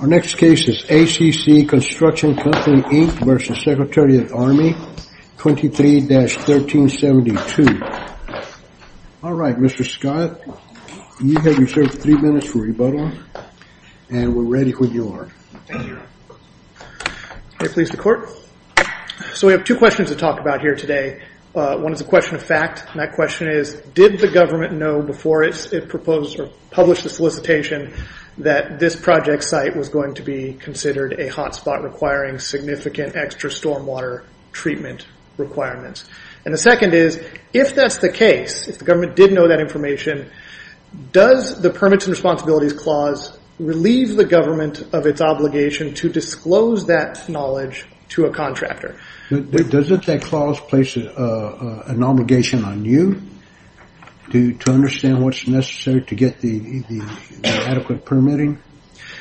Our next case is ACC Construction Company, Inc. v. Secretary of the Army, 23-1372. All right, Mr. Scott, you have reserved three minutes for rebuttal, and we're ready when you are. Thank you. May it please the Court. So we have two questions to talk about here today. One is a question of fact, and that question is, did the government know before it published the solicitation that this project site was going to be considered a hotspot requiring significant extra stormwater treatment requirements? And the second is, if that's the case, if the government did know that information, does the Permits and Responsibilities Clause relieve the government of its obligation to disclose that knowledge to a contractor? Doesn't that clause place an obligation on you to understand what's necessary to get the adequate permitting?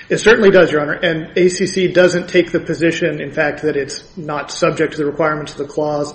It certainly does, Your Honor, and ACC doesn't take the position, in fact, that it's not subject to the requirements of the clause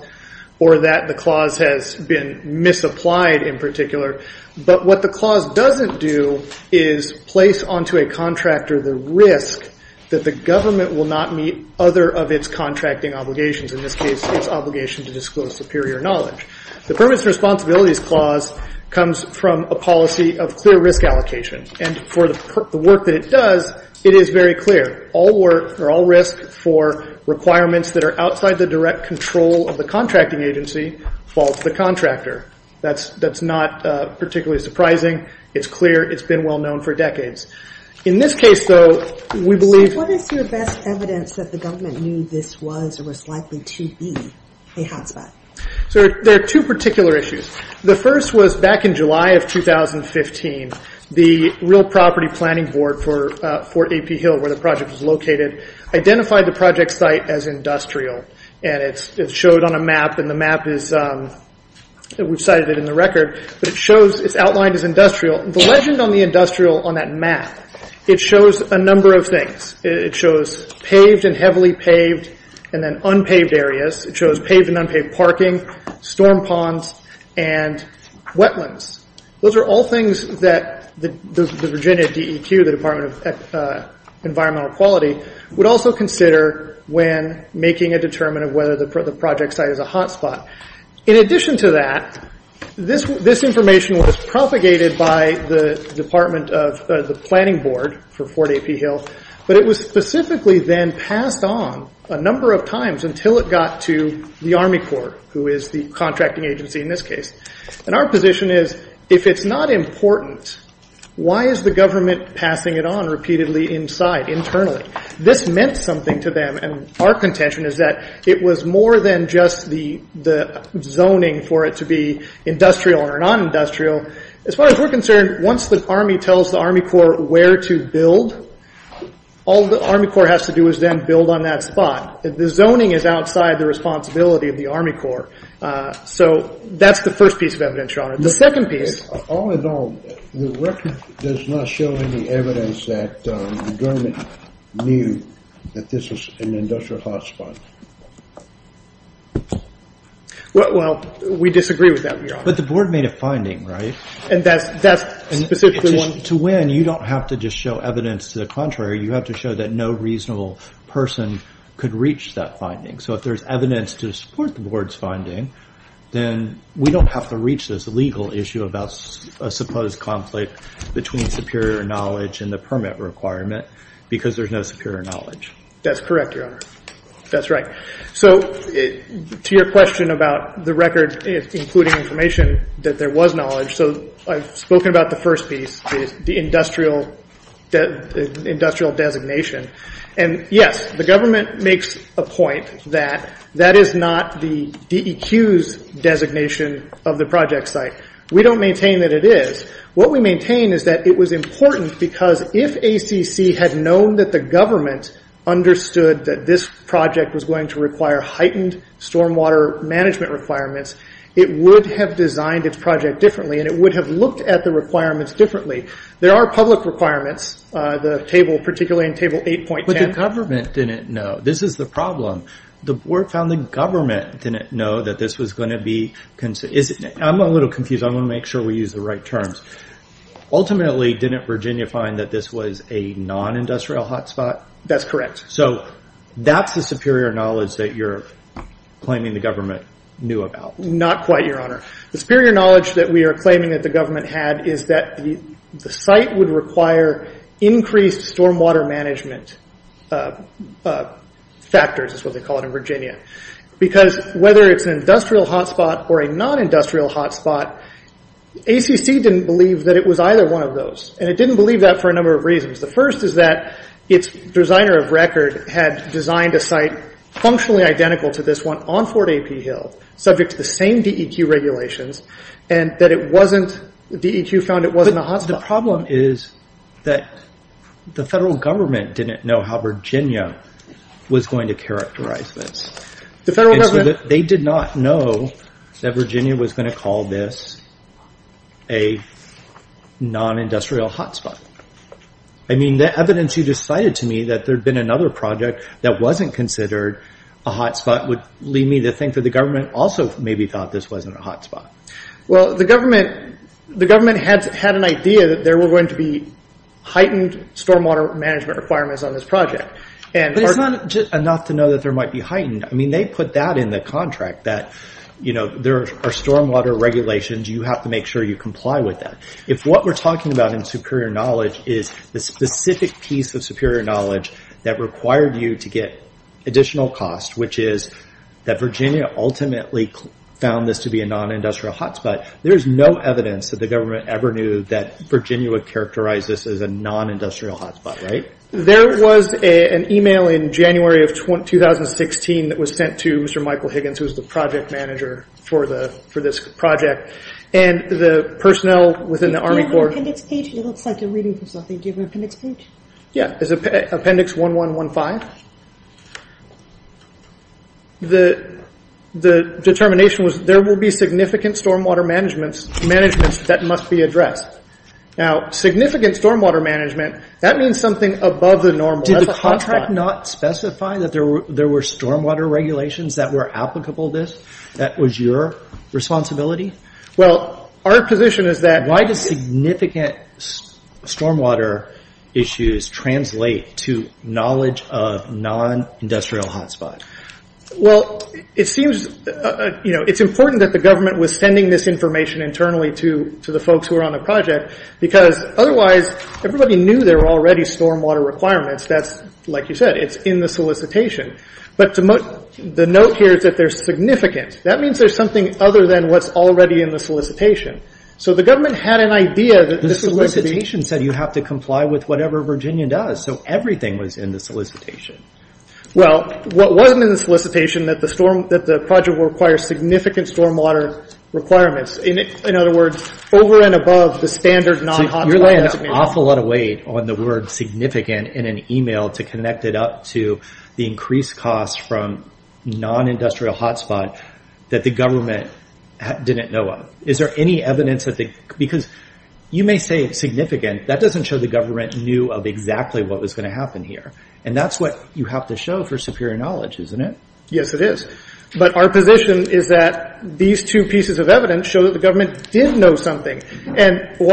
or that the clause has been misapplied in particular. But what the clause doesn't do is place onto a contractor the risk that the government will not meet other of its contracting obligations, in this case, its obligation to disclose superior knowledge. The Permits and Responsibilities Clause comes from a policy of clear risk allocation, and for the work that it does, it is very clear. All work or all risk for requirements that are outside the direct control of the contracting agency falls to the contractor. That's not particularly surprising. It's clear. It's been well-known for decades. In this case, though, we believe- Is there evidence that the government knew this was or was likely to be a hotspot? There are two particular issues. The first was back in July of 2015. The Real Property Planning Board for Fort AP Hill, where the project was located, identified the project site as industrial, and it's shown on a map, and the map is- we've cited it in the record, but it shows- it's outlined as industrial. The legend on the industrial on that map, it shows a number of things. It shows paved and heavily paved, and then unpaved areas. It shows paved and unpaved parking, storm ponds, and wetlands. Those are all things that the Virginia DEQ, the Department of Environmental Quality, would also consider when making a determinant of whether the project site is a hotspot. In addition to that, this information was propagated by the Department of- the Planning Board for Fort AP Hill, but it was specifically then passed on a number of times until it got to the Army Corps, who is the contracting agency in this case. Our position is, if it's not important, why is the government passing it on repeatedly inside, internally? This meant something to them, and our contention is that it was more than just the zoning for it to be industrial or non-industrial. As far as we're concerned, once the Army tells the Army Corps where to build, all the Army Corps has to do is then build on that spot. The zoning is outside the responsibility of the Army Corps. That's the first piece of evidence, Your Honor. The second piece- All in all, the record does not show any evidence that the government knew that this was an industrial hotspot. We disagree with that, Your Honor. The board made a finding, right? That's specifically one- To win, you don't have to just show evidence to the contrary. You have to show that no reasonable person could reach that finding. If there's evidence to support the board's finding, then we don't have to reach this legal issue about a supposed conflict between superior knowledge and the permit requirement because there's no superior knowledge. That's correct, Your Honor. That's right. To your question about the record including information that there was knowledge, I've spoken about the first piece, the industrial designation. Yes, the government makes a point that that is not the DEQ's designation of the project site. We don't maintain that it is. What we maintain is that it was important because if ACC had known that the government understood that this project was going to require heightened stormwater management requirements, it would have designed its project differently and it would have looked at the requirements differently. There are public requirements, particularly in Table 8.10- The government didn't know. This is the problem. The board found the government didn't know that this was going to be... I'm a little confused. I want to make sure we use the right terms. Ultimately, didn't Virginia find that this was a non-industrial hotspot? That's correct. That's the superior knowledge that you're claiming the government knew about? Not quite, Your Honor. The superior knowledge that we are claiming that the government had is that the site would require increased stormwater management factors, is what they call it in Virginia. Whether it's an industrial hotspot or a non-industrial hotspot, ACC didn't believe that it was either one of those. It didn't believe that for a number of reasons. The first is that its designer of record had designed a site functionally identical to this one on Fort A.P. Hill, subject to the same DEQ regulations, and that it wasn't... DEQ found it wasn't a hotspot. The problem is that the federal government didn't know how Virginia was going to characterize this. The federal government- I mean, the evidence you just cited to me, that there'd been another project that wasn't considered a hotspot, would lead me to think that the government also maybe thought this wasn't a hotspot. The government had an idea that there were going to be heightened stormwater management requirements on this project. It's not enough to know that there might be heightened. They put that in the contract, that there are stormwater regulations. You have to make sure you comply with that. If what we're talking about in superior knowledge is the specific piece of superior knowledge that required you to get additional cost, which is that Virginia ultimately found this to be a non-industrial hotspot, there's no evidence that the government ever knew that Virginia would characterize this as a non-industrial hotspot, right? There was an email in January of 2016 that was sent to Mr. Michael Higgins, who was the personnel within the Army Corps. Do you have an appendix page? It looks like you're reading from something. Do you have an appendix page? Yeah. It's appendix 1115. The determination was, there will be significant stormwater management that must be addressed. Now, significant stormwater management, that means something above the normal. That's a hotspot. Did the contract not specify that there were stormwater regulations that were applicable to this? That was your responsibility? Well, our position is that- Why does significant stormwater issues translate to knowledge of non-industrial hotspot? It's important that the government was sending this information internally to the folks who were on the project, because otherwise, everybody knew there were already stormwater requirements. Like you said, it's in the solicitation. The note here is that they're significant. That means there's something other than what's already in the solicitation. The government had an idea that the solicitation- The solicitation said you have to comply with whatever Virginia does, so everything was in the solicitation. Well, what wasn't in the solicitation, that the project will require significant stormwater requirements. In other words, over and above the standard non-hotspot. You're laying an awful lot of weight on the word significant in an email to connect it to the increased cost from non-industrial hotspot that the government didn't know of. Is there any evidence that the... Because you may say it's significant, that doesn't show the government knew of exactly what was going to happen here. That's what you have to show for superior knowledge, isn't it? Yes, it is. Our position is that these two pieces of evidence show that the government did know something. The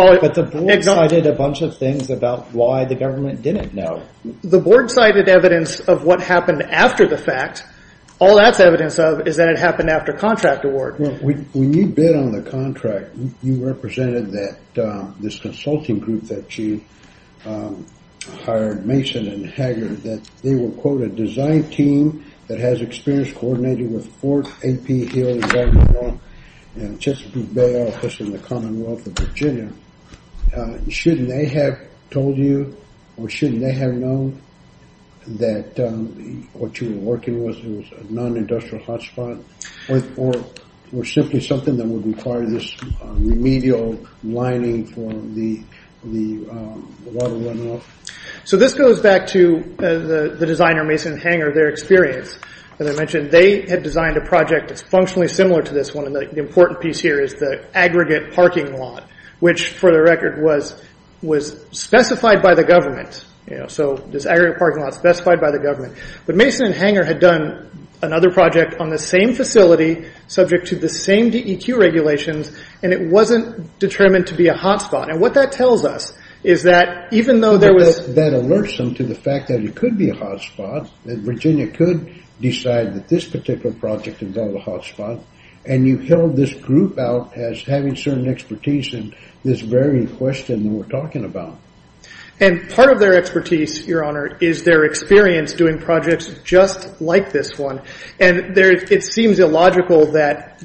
board cited a bunch of things about why the government didn't know. The board cited evidence of what happened after the fact. All that's evidence of is that it happened after contract award. When you bid on the contract, you represented this consulting group that you hired, Mason and Hager, that they were, quote, a design team that has experience coordinating with Ford, AP, Hill, and Baltimore, and Chesapeake Bay office in the Commonwealth of Virginia. Shouldn't they have told you, or shouldn't they have known that what you were working with was a non-industrial hotspot, or simply something that would require this remedial lining for the water running off? This goes back to the designer, Mason and Hager, their experience. As I mentioned, they had designed a project that's functionally similar to this one. The important piece here is the aggregate parking lot, which, for the record, was specified by the government. This aggregate parking lot is specified by the government. Mason and Hager had done another project on the same facility, subject to the same DEQ regulations, and it wasn't determined to be a hotspot. What that tells us is that even though there was... That alerts them to the fact that it could be a hotspot, that Virginia could decide that this particular project involved a hotspot, and you held this group out as having certain expertise in this very question that we're talking about. Part of their expertise, your honor, is their experience doing projects just like this one. It seems illogical that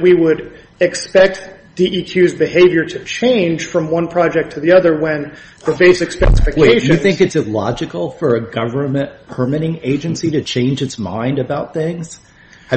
we would expect DEQ's behavior to change from one project to the other when the basic specifications... Have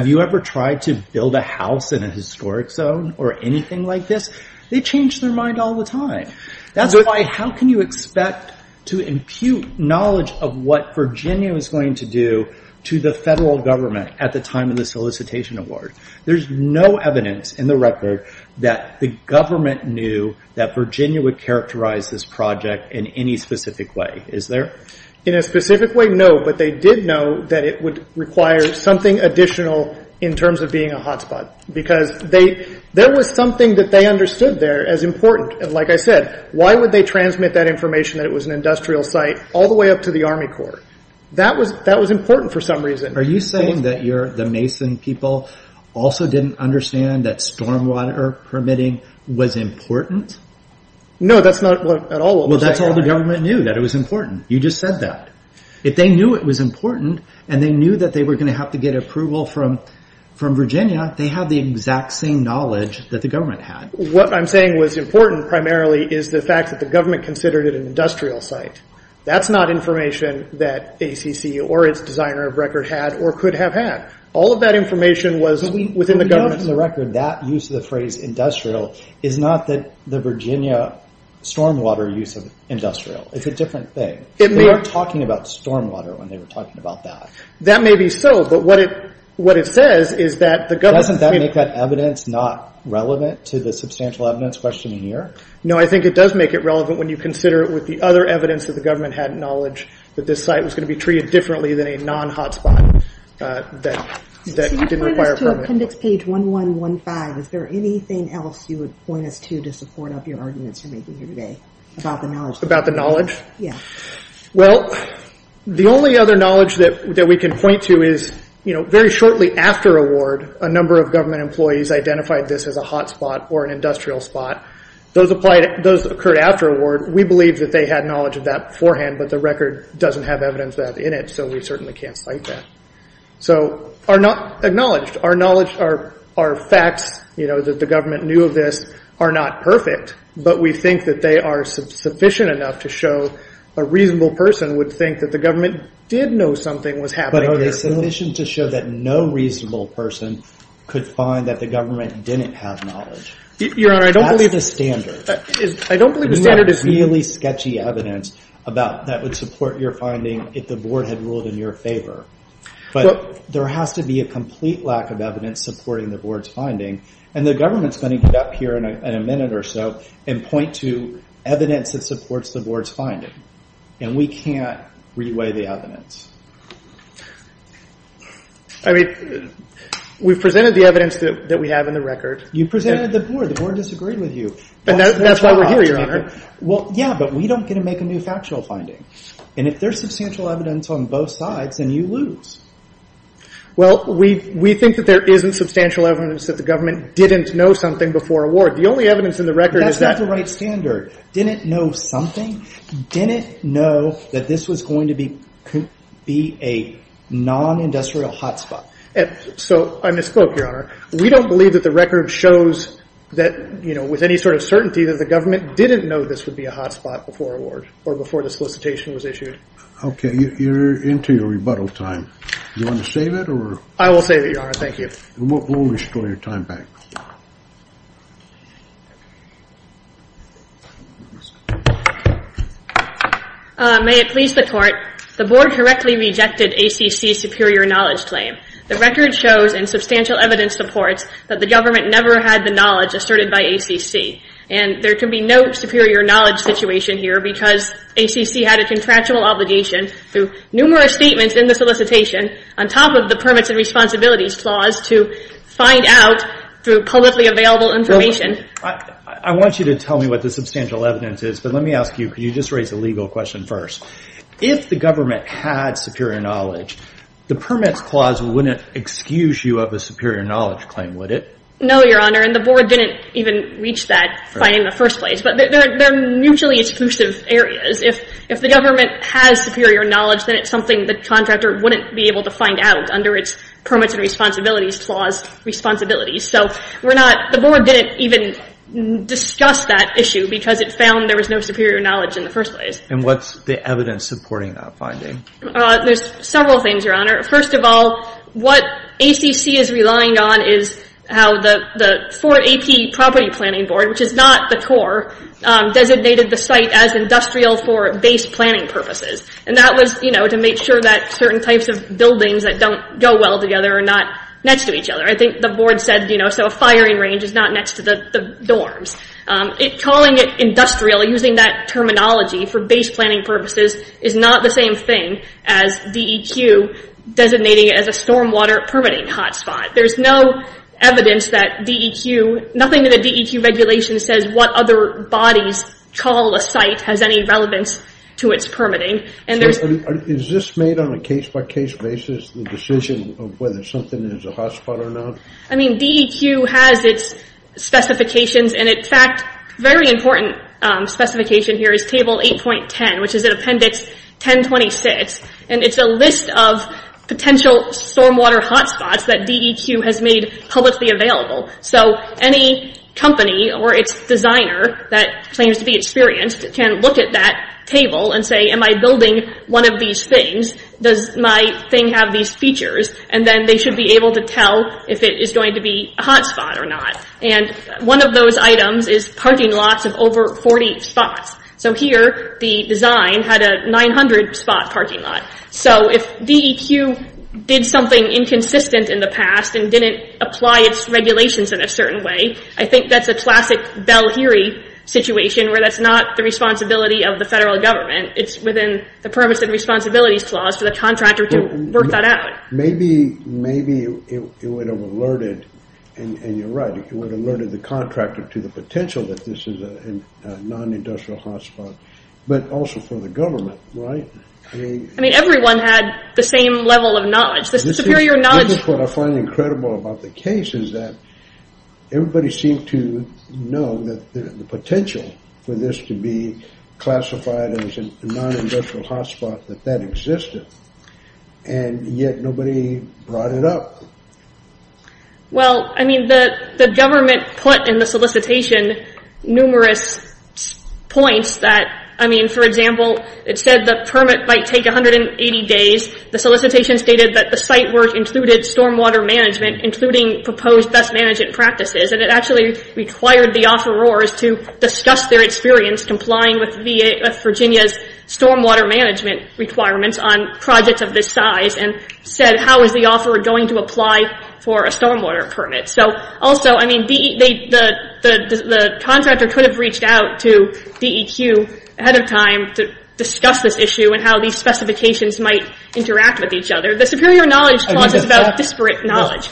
you ever tried to build a house in a historic zone, or anything like this? They change their mind all the time. That's why, how can you expect to impute knowledge of what Virginia was going to do to the federal government at the time of the solicitation award? There's no evidence in the record that the government knew that Virginia would characterize this project in any specific way. Is there? In a specific way, no, but they did know that it would require something additional in terms of being a hotspot, because there was something that they understood there as important. Like I said, why would they transmit that information that it was an industrial site all the way up to the Army Corps? That was important for some reason. Are you saying that the Mason people also didn't understand that stormwater permitting was important? No, that's not what at all what we're saying. That's all the government knew, that it was important. You just said that. If they knew it was important, and they knew that they were going to have to get approval from Virginia, they had the exact same knowledge that the government had. What I'm saying was important, primarily, is the fact that the government considered it an industrial site. That's not information that ACC, or its designer of record, had, or could have had. All of that information was within the government's... We know from the record that use of the phrase, industrial, is not the Virginia stormwater use of industrial. It's a different thing. They weren't talking about stormwater when they were talking about that. That may be so, but what it says is that the government... Doesn't that make that evidence not relevant to the substantial evidence question here? No, I think it does make it relevant when you consider it with the other evidence that the government had knowledge that this site was going to be treated differently than a non-hotspot that didn't require a permit. You point us to appendix page 1115, is there anything else you would point us to to support up your arguments you're making here today about the knowledge? Yeah. Well, the only other knowledge that we can point to is, very shortly after award, a number of government employees identified this as a hotspot or an industrial spot. Those occurred after award. We believe that they had knowledge of that beforehand, but the record doesn't have evidence of that in it, so we certainly can't cite that. So our knowledge, our facts, that the government knew of this, are not perfect, but we think that they are sufficient enough to show a reasonable person would think that the government did know something was happening here. But are they sufficient to show that no reasonable person could find that the government didn't have knowledge? Your Honor, I don't believe... That's the standard. I don't believe the standard is... You have really sketchy evidence that would support your finding if the board had ruled in your favor, but there has to be a complete lack of evidence supporting the board's finding, and the government's going to get up here in a minute or so and point to evidence that supports the board's finding, and we can't re-weigh the evidence. I mean, we've presented the evidence that we have in the record. You presented it to the board. The board disagreed with you. That's why we're here, Your Honor. Well, yeah, but we don't get to make a new factual finding, and if there's substantial evidence on both sides, then you lose. Well, we think that there isn't substantial evidence that the government didn't know something before award. The only evidence in the record is that... That's not the right standard. Didn't know something? Didn't know that this was going to be a non-industrial hotspot? So I misspoke, Your Honor. We don't believe that the record shows that, you know, with any sort of certainty that the government didn't know this would be a hotspot before award, or before the solicitation was issued. Okay, you're into your rebuttal time. Do you want to save it, or... I will save it, Your Honor. Thank you. We'll restore your time back. May it please the court, the board correctly rejected ACC's superior knowledge claim. The record shows in substantial evidence supports that the government never had the knowledge asserted by ACC, and there can be no superior knowledge situation here because ACC had a contractual obligation through numerous statements in the solicitation on top of the permits and responsibilities clause to find out through publicly available information. I want you to tell me what the substantial evidence is, but let me ask you, could you just raise the legal question first. If the government had superior knowledge, the permits clause wouldn't excuse you of a superior knowledge claim, would it? No, Your Honor, and the board didn't even reach that finding in the first place. But they're mutually exclusive areas. If the government has superior knowledge, then it's something the contractor wouldn't be able to find out under its permits and responsibilities clause responsibilities. So we're not... The board didn't even discuss that issue because it found there was no superior knowledge in the first place. And what's the evidence supporting that finding? There's several things, Your Honor. First of all, what ACC is relying on is how the Fort AP property planning board, which is not the Corps, designated the site as industrial for base planning purposes. And that was, you know, to make sure that certain types of buildings that don't go well together are not next to each other. I think the board said, you know, so a firing range is not next to the dorms. Calling it industrial, using that terminology for base planning purposes, is not the same thing as DEQ designating it as a stormwater permitting hotspot. There's no evidence that DEQ, nothing that the DEQ regulation says what other bodies call a site has any relevance to its permitting. And there's... Is this made on a case-by-case basis, the decision of whether something is a hotspot or not? I mean, DEQ has its specifications, and in fact, a very important specification here is Table 8.10, which is in Appendix 1026, and it's a list of potential stormwater hotspots that DEQ has made publicly available. So any company or its designer that claims to be experienced can look at that table and say, am I building one of these things? Does my thing have these features? And then they should be able to tell if it is going to be a hotspot or not. And one of those items is parking lots of over 40 spots. So here, the design had a 900-spot parking lot. So if DEQ did something inconsistent in the past and didn't apply its regulations in a certain way, I think that's a classic Bell-Heary situation where that's not the responsibility of the federal government. It's within the Permits and Responsibilities Clause for the contractor to work that out. Maybe it would have alerted, and you're right, it would have alerted the contractor to the potential that this is a non-industrial hotspot, but also for the government, right? I mean, everyone had the same level of knowledge. The superior knowledge... This is what I find incredible about the case is that everybody seemed to know that the potential for this to be classified as a non-industrial hotspot, that that existed, and yet nobody brought it up. Well, I mean, the government put in the solicitation numerous points that, I mean, for example, it said the permit might take 180 days. The solicitation stated that the site work included stormwater management, including proposed best management practices, and it actually required the offerors to discuss their experience complying with Virginia's stormwater management requirements on projects of this size and said, how is the offeror going to apply for a stormwater permit? So also, I mean, the contractor could have reached out to DEQ ahead of time to discuss this issue and how these specifications might interact with each other. The superior knowledge clause is about disparate knowledge.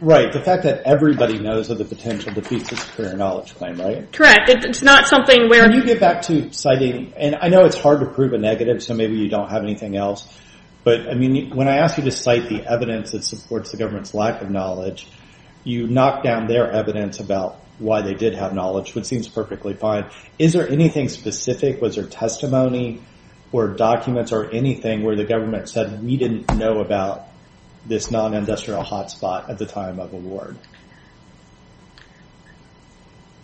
Right, the fact that everybody knows that the potential defeats the superior knowledge claim, right? Correct. It's not something where... Can you get back to citing... And I know it's hard to prove a negative, so maybe you don't have anything else, but you knocked down their evidence about why they did have knowledge, which seems perfectly fine. Is there anything specific? Was there testimony or documents or anything where the government said we didn't know about this non-industrial hotspot at the time of award?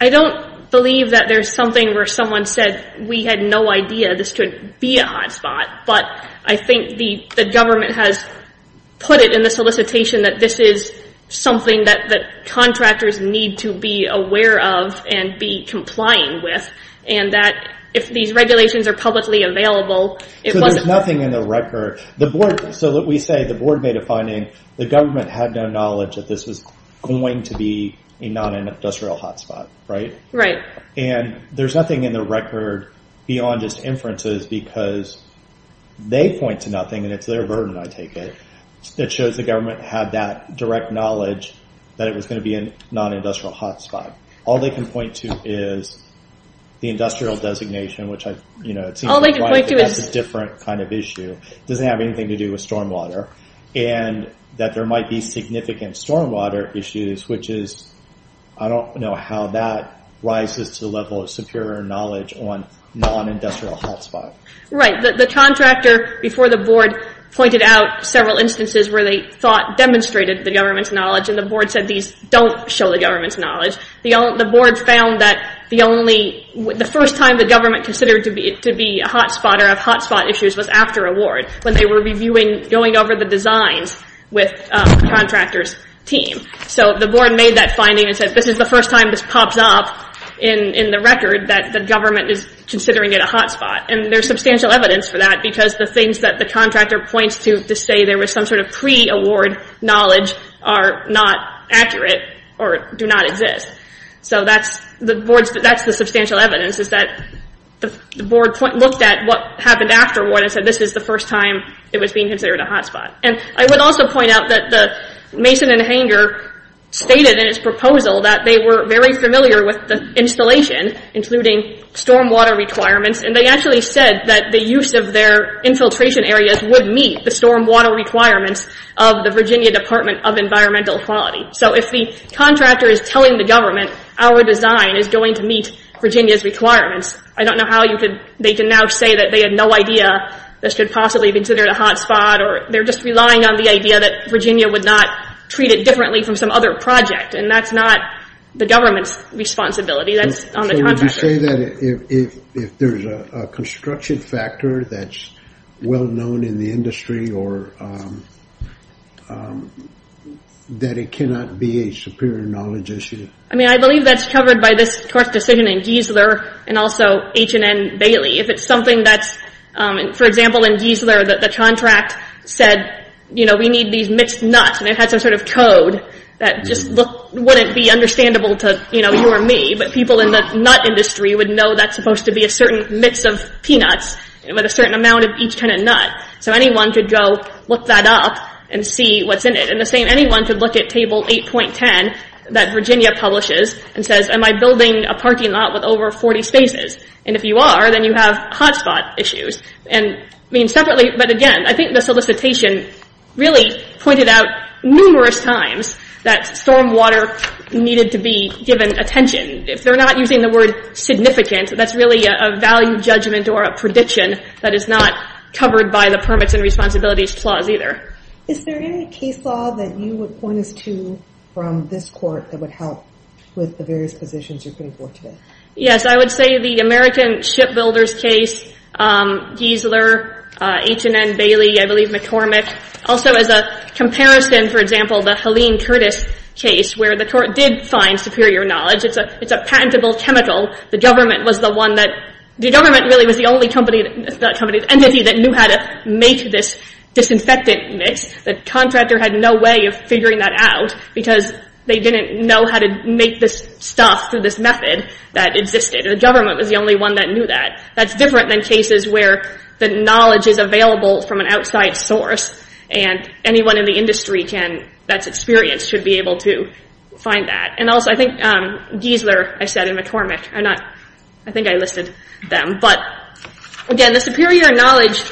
I don't believe that there's something where someone said we had no idea this could be a non-industrial hotspot, but I think the government has put it in the solicitation that this is something that contractors need to be aware of and be complying with, and that if these regulations are publicly available, it wasn't... So there's nothing in the record. So we say the board made a finding, the government had no knowledge that this was going to be a non-industrial hotspot, right? Right. And there's nothing in the record beyond just inferences because they point to nothing, and it's their burden, I take it, that shows the government had that direct knowledge that it was going to be a non-industrial hotspot. All they can point to is the industrial designation, which it seems like a different kind of issue. It doesn't have anything to do with stormwater, and that there might be significant stormwater issues, which is, I don't know how that rises to the level of superior knowledge on non-industrial hotspots. Right. The contractor, before the board, pointed out several instances where they thought demonstrated the government's knowledge, and the board said these don't show the government's knowledge. The board found that the first time the government considered to be a hotspotter of hotspot issues was after award, when they were reviewing, going over the designs with the contractor's team. So the board made that finding and said, this is the first time this pops up in the record that the government is considering it a hotspot, and there's substantial evidence for that because the things that the contractor points to to say there was some sort of pre-award knowledge are not accurate or do not exist. So that's the board's, that's the substantial evidence is that the board looked at what they said, this is the first time it was being considered a hotspot. I would also point out that the Mason and Hanger stated in its proposal that they were very familiar with the installation, including stormwater requirements, and they actually said that the use of their infiltration areas would meet the stormwater requirements of the Virginia Department of Environmental Quality. So if the contractor is telling the government, our design is going to meet Virginia's requirements, I don't know how they can now say that they had no idea this could possibly be considered a hotspot, or they're just relying on the idea that Virginia would not treat it differently from some other project, and that's not the government's responsibility, that's on the contractor. So would you say that if there's a construction factor that's well-known in the industry or that it cannot be a superior knowledge issue? I mean, I believe that's covered by this court decision in Giesler and also H&N Bailey. If it's something that's, for example, in Giesler, the contract said, you know, we need these mixed nuts, and it had some sort of code that just wouldn't be understandable to you or me, but people in the nut industry would know that's supposed to be a certain mix of peanuts with a certain amount of each kind of nut. So anyone could go look that up and see what's in it, and the same, anyone could look at and say, am I building a parking lot with over 40 spaces? And if you are, then you have hotspot issues. And I mean, separately, but again, I think the solicitation really pointed out numerous times that stormwater needed to be given attention. If they're not using the word significant, that's really a value judgment or a prediction that is not covered by the Permits and Responsibilities Clause either. Is there any case law that you would point us to from this court that would help with the various positions you're putting forth today? Yes, I would say the American Shipbuilders case, Giesler, H&N Bailey, I believe McCormick. Also, as a comparison, for example, the Helene Curtis case, where the court did find superior knowledge. It's a patentable chemical. The government was the one that, the government really was the only company, not company, entity that knew how to make this disinfectant mix. The contractor had no way of figuring that out because they didn't know how to make this stuff through this method that existed. The government was the only one that knew that. That's different than cases where the knowledge is available from an outside source and anyone in the industry that's experienced should be able to find that. And also, I think Giesler, I said, and McCormick, I think I listed them. But again, the superior knowledge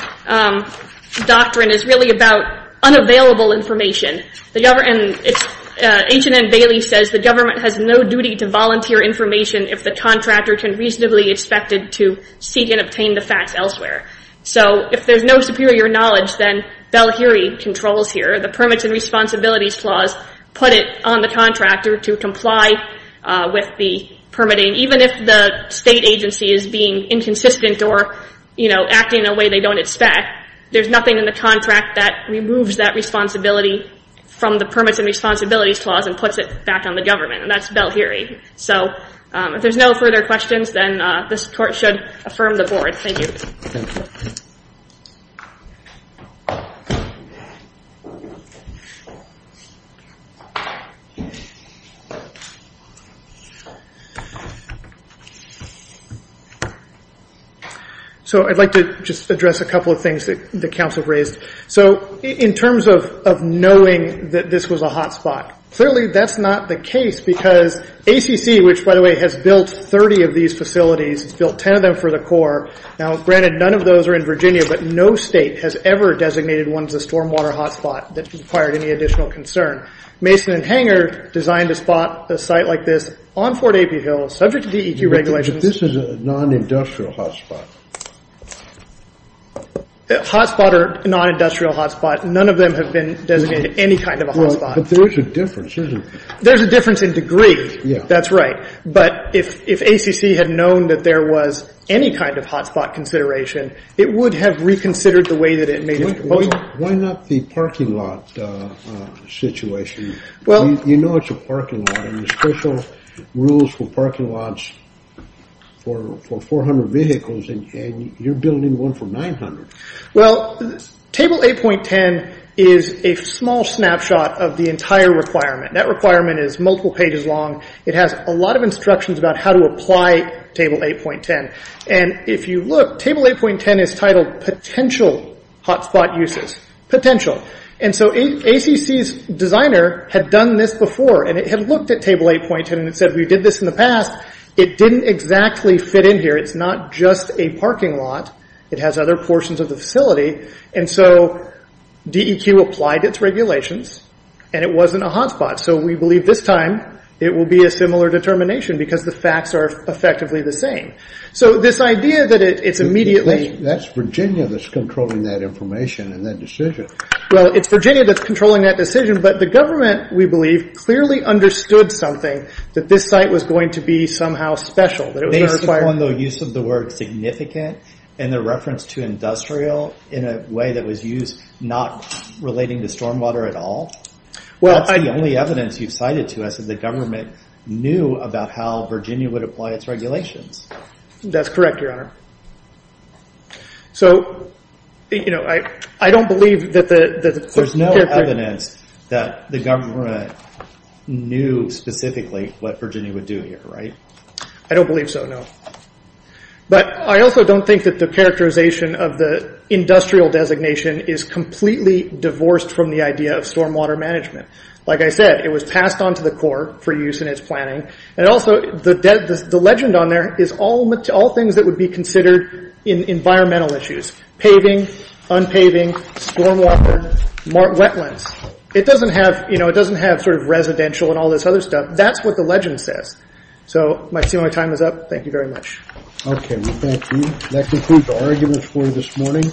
doctrine is really about unavailable information. The government, H&N Bailey says the government has no duty to volunteer information if the contractor can reasonably expect it to seek and obtain the facts elsewhere. So if there's no superior knowledge, then Bell-Heary controls here. The Permits and Responsibilities Clause put it on the contractor to comply with the permitting, even if the state agency is being inconsistent or acting in a way they don't expect. There's nothing in the contract that removes that responsibility from the Permits and Responsibilities Clause and puts it back on the government. That's Bell-Heary. So if there's no further questions, then this court should affirm the board. Thank you. So, I'd like to just address a couple of things that the counts have raised. So in terms of knowing that this was a hotspot, clearly that's not the case because ACC, which by the way has built 30 of these facilities, has built 10 of them for the Corps, now granted none of those are in Virginia, but no state has ever designated one as a stormwater hotspot that required any additional concern. Mason and Hanger designed a spot, a site like this, on Fort Apey Hill, subject to DEQ regulations. But this is a non-industrial hotspot. Hotspot or non-industrial hotspot, none of them have been designated any kind of a hotspot. But there is a difference, isn't there? There's a difference in degree. Yeah. That's right. But if ACC had known that there was any kind of hotspot consideration, it would have reconsidered the way that it made a proposal. Why not the parking lot situation? You know it's a parking lot. There's special rules for parking lots for 400 vehicles and you're building one for 900. Well, Table 8.10 is a small snapshot of the entire requirement. That requirement is multiple pages long. It has a lot of instructions about how to apply Table 8.10. And if you look, Table 8.10 is titled Potential Hotspot Uses. Potential. And so ACC's designer had done this before and it had looked at Table 8.10 and it said we did this in the past. It didn't exactly fit in here. It's not just a parking lot. It has other portions of the facility. And so DEQ applied its regulations and it wasn't a hotspot. So we believe this time it will be a similar determination because the facts are effectively the same. So this idea that it's immediately... That's Virginia that's controlling that information and that decision. Well, it's Virginia that's controlling that decision, but the government, we believe, clearly understood something that this site was going to be somehow special. Based upon the use of the word significant and the reference to industrial in a way that was used not relating to stormwater at all? That's the only evidence you've cited to us that the government knew about how Virginia would apply its regulations. That's correct, Your Honor. So I don't believe that the... There's no evidence that the government knew specifically what Virginia would do here, right? I don't believe so, no. But I also don't think that the characterization of the industrial designation is completely divorced from the idea of stormwater management. Like I said, it was passed on to the court for use in its planning. And also the legend on there is all things that would be considered environmental issues, paving, unpaving, stormwater, wetlands. It doesn't have sort of residential and all this other stuff. That's what the legend says. So my time is up. Thank you very much. Okay, we thank you. That concludes the arguments for this morning.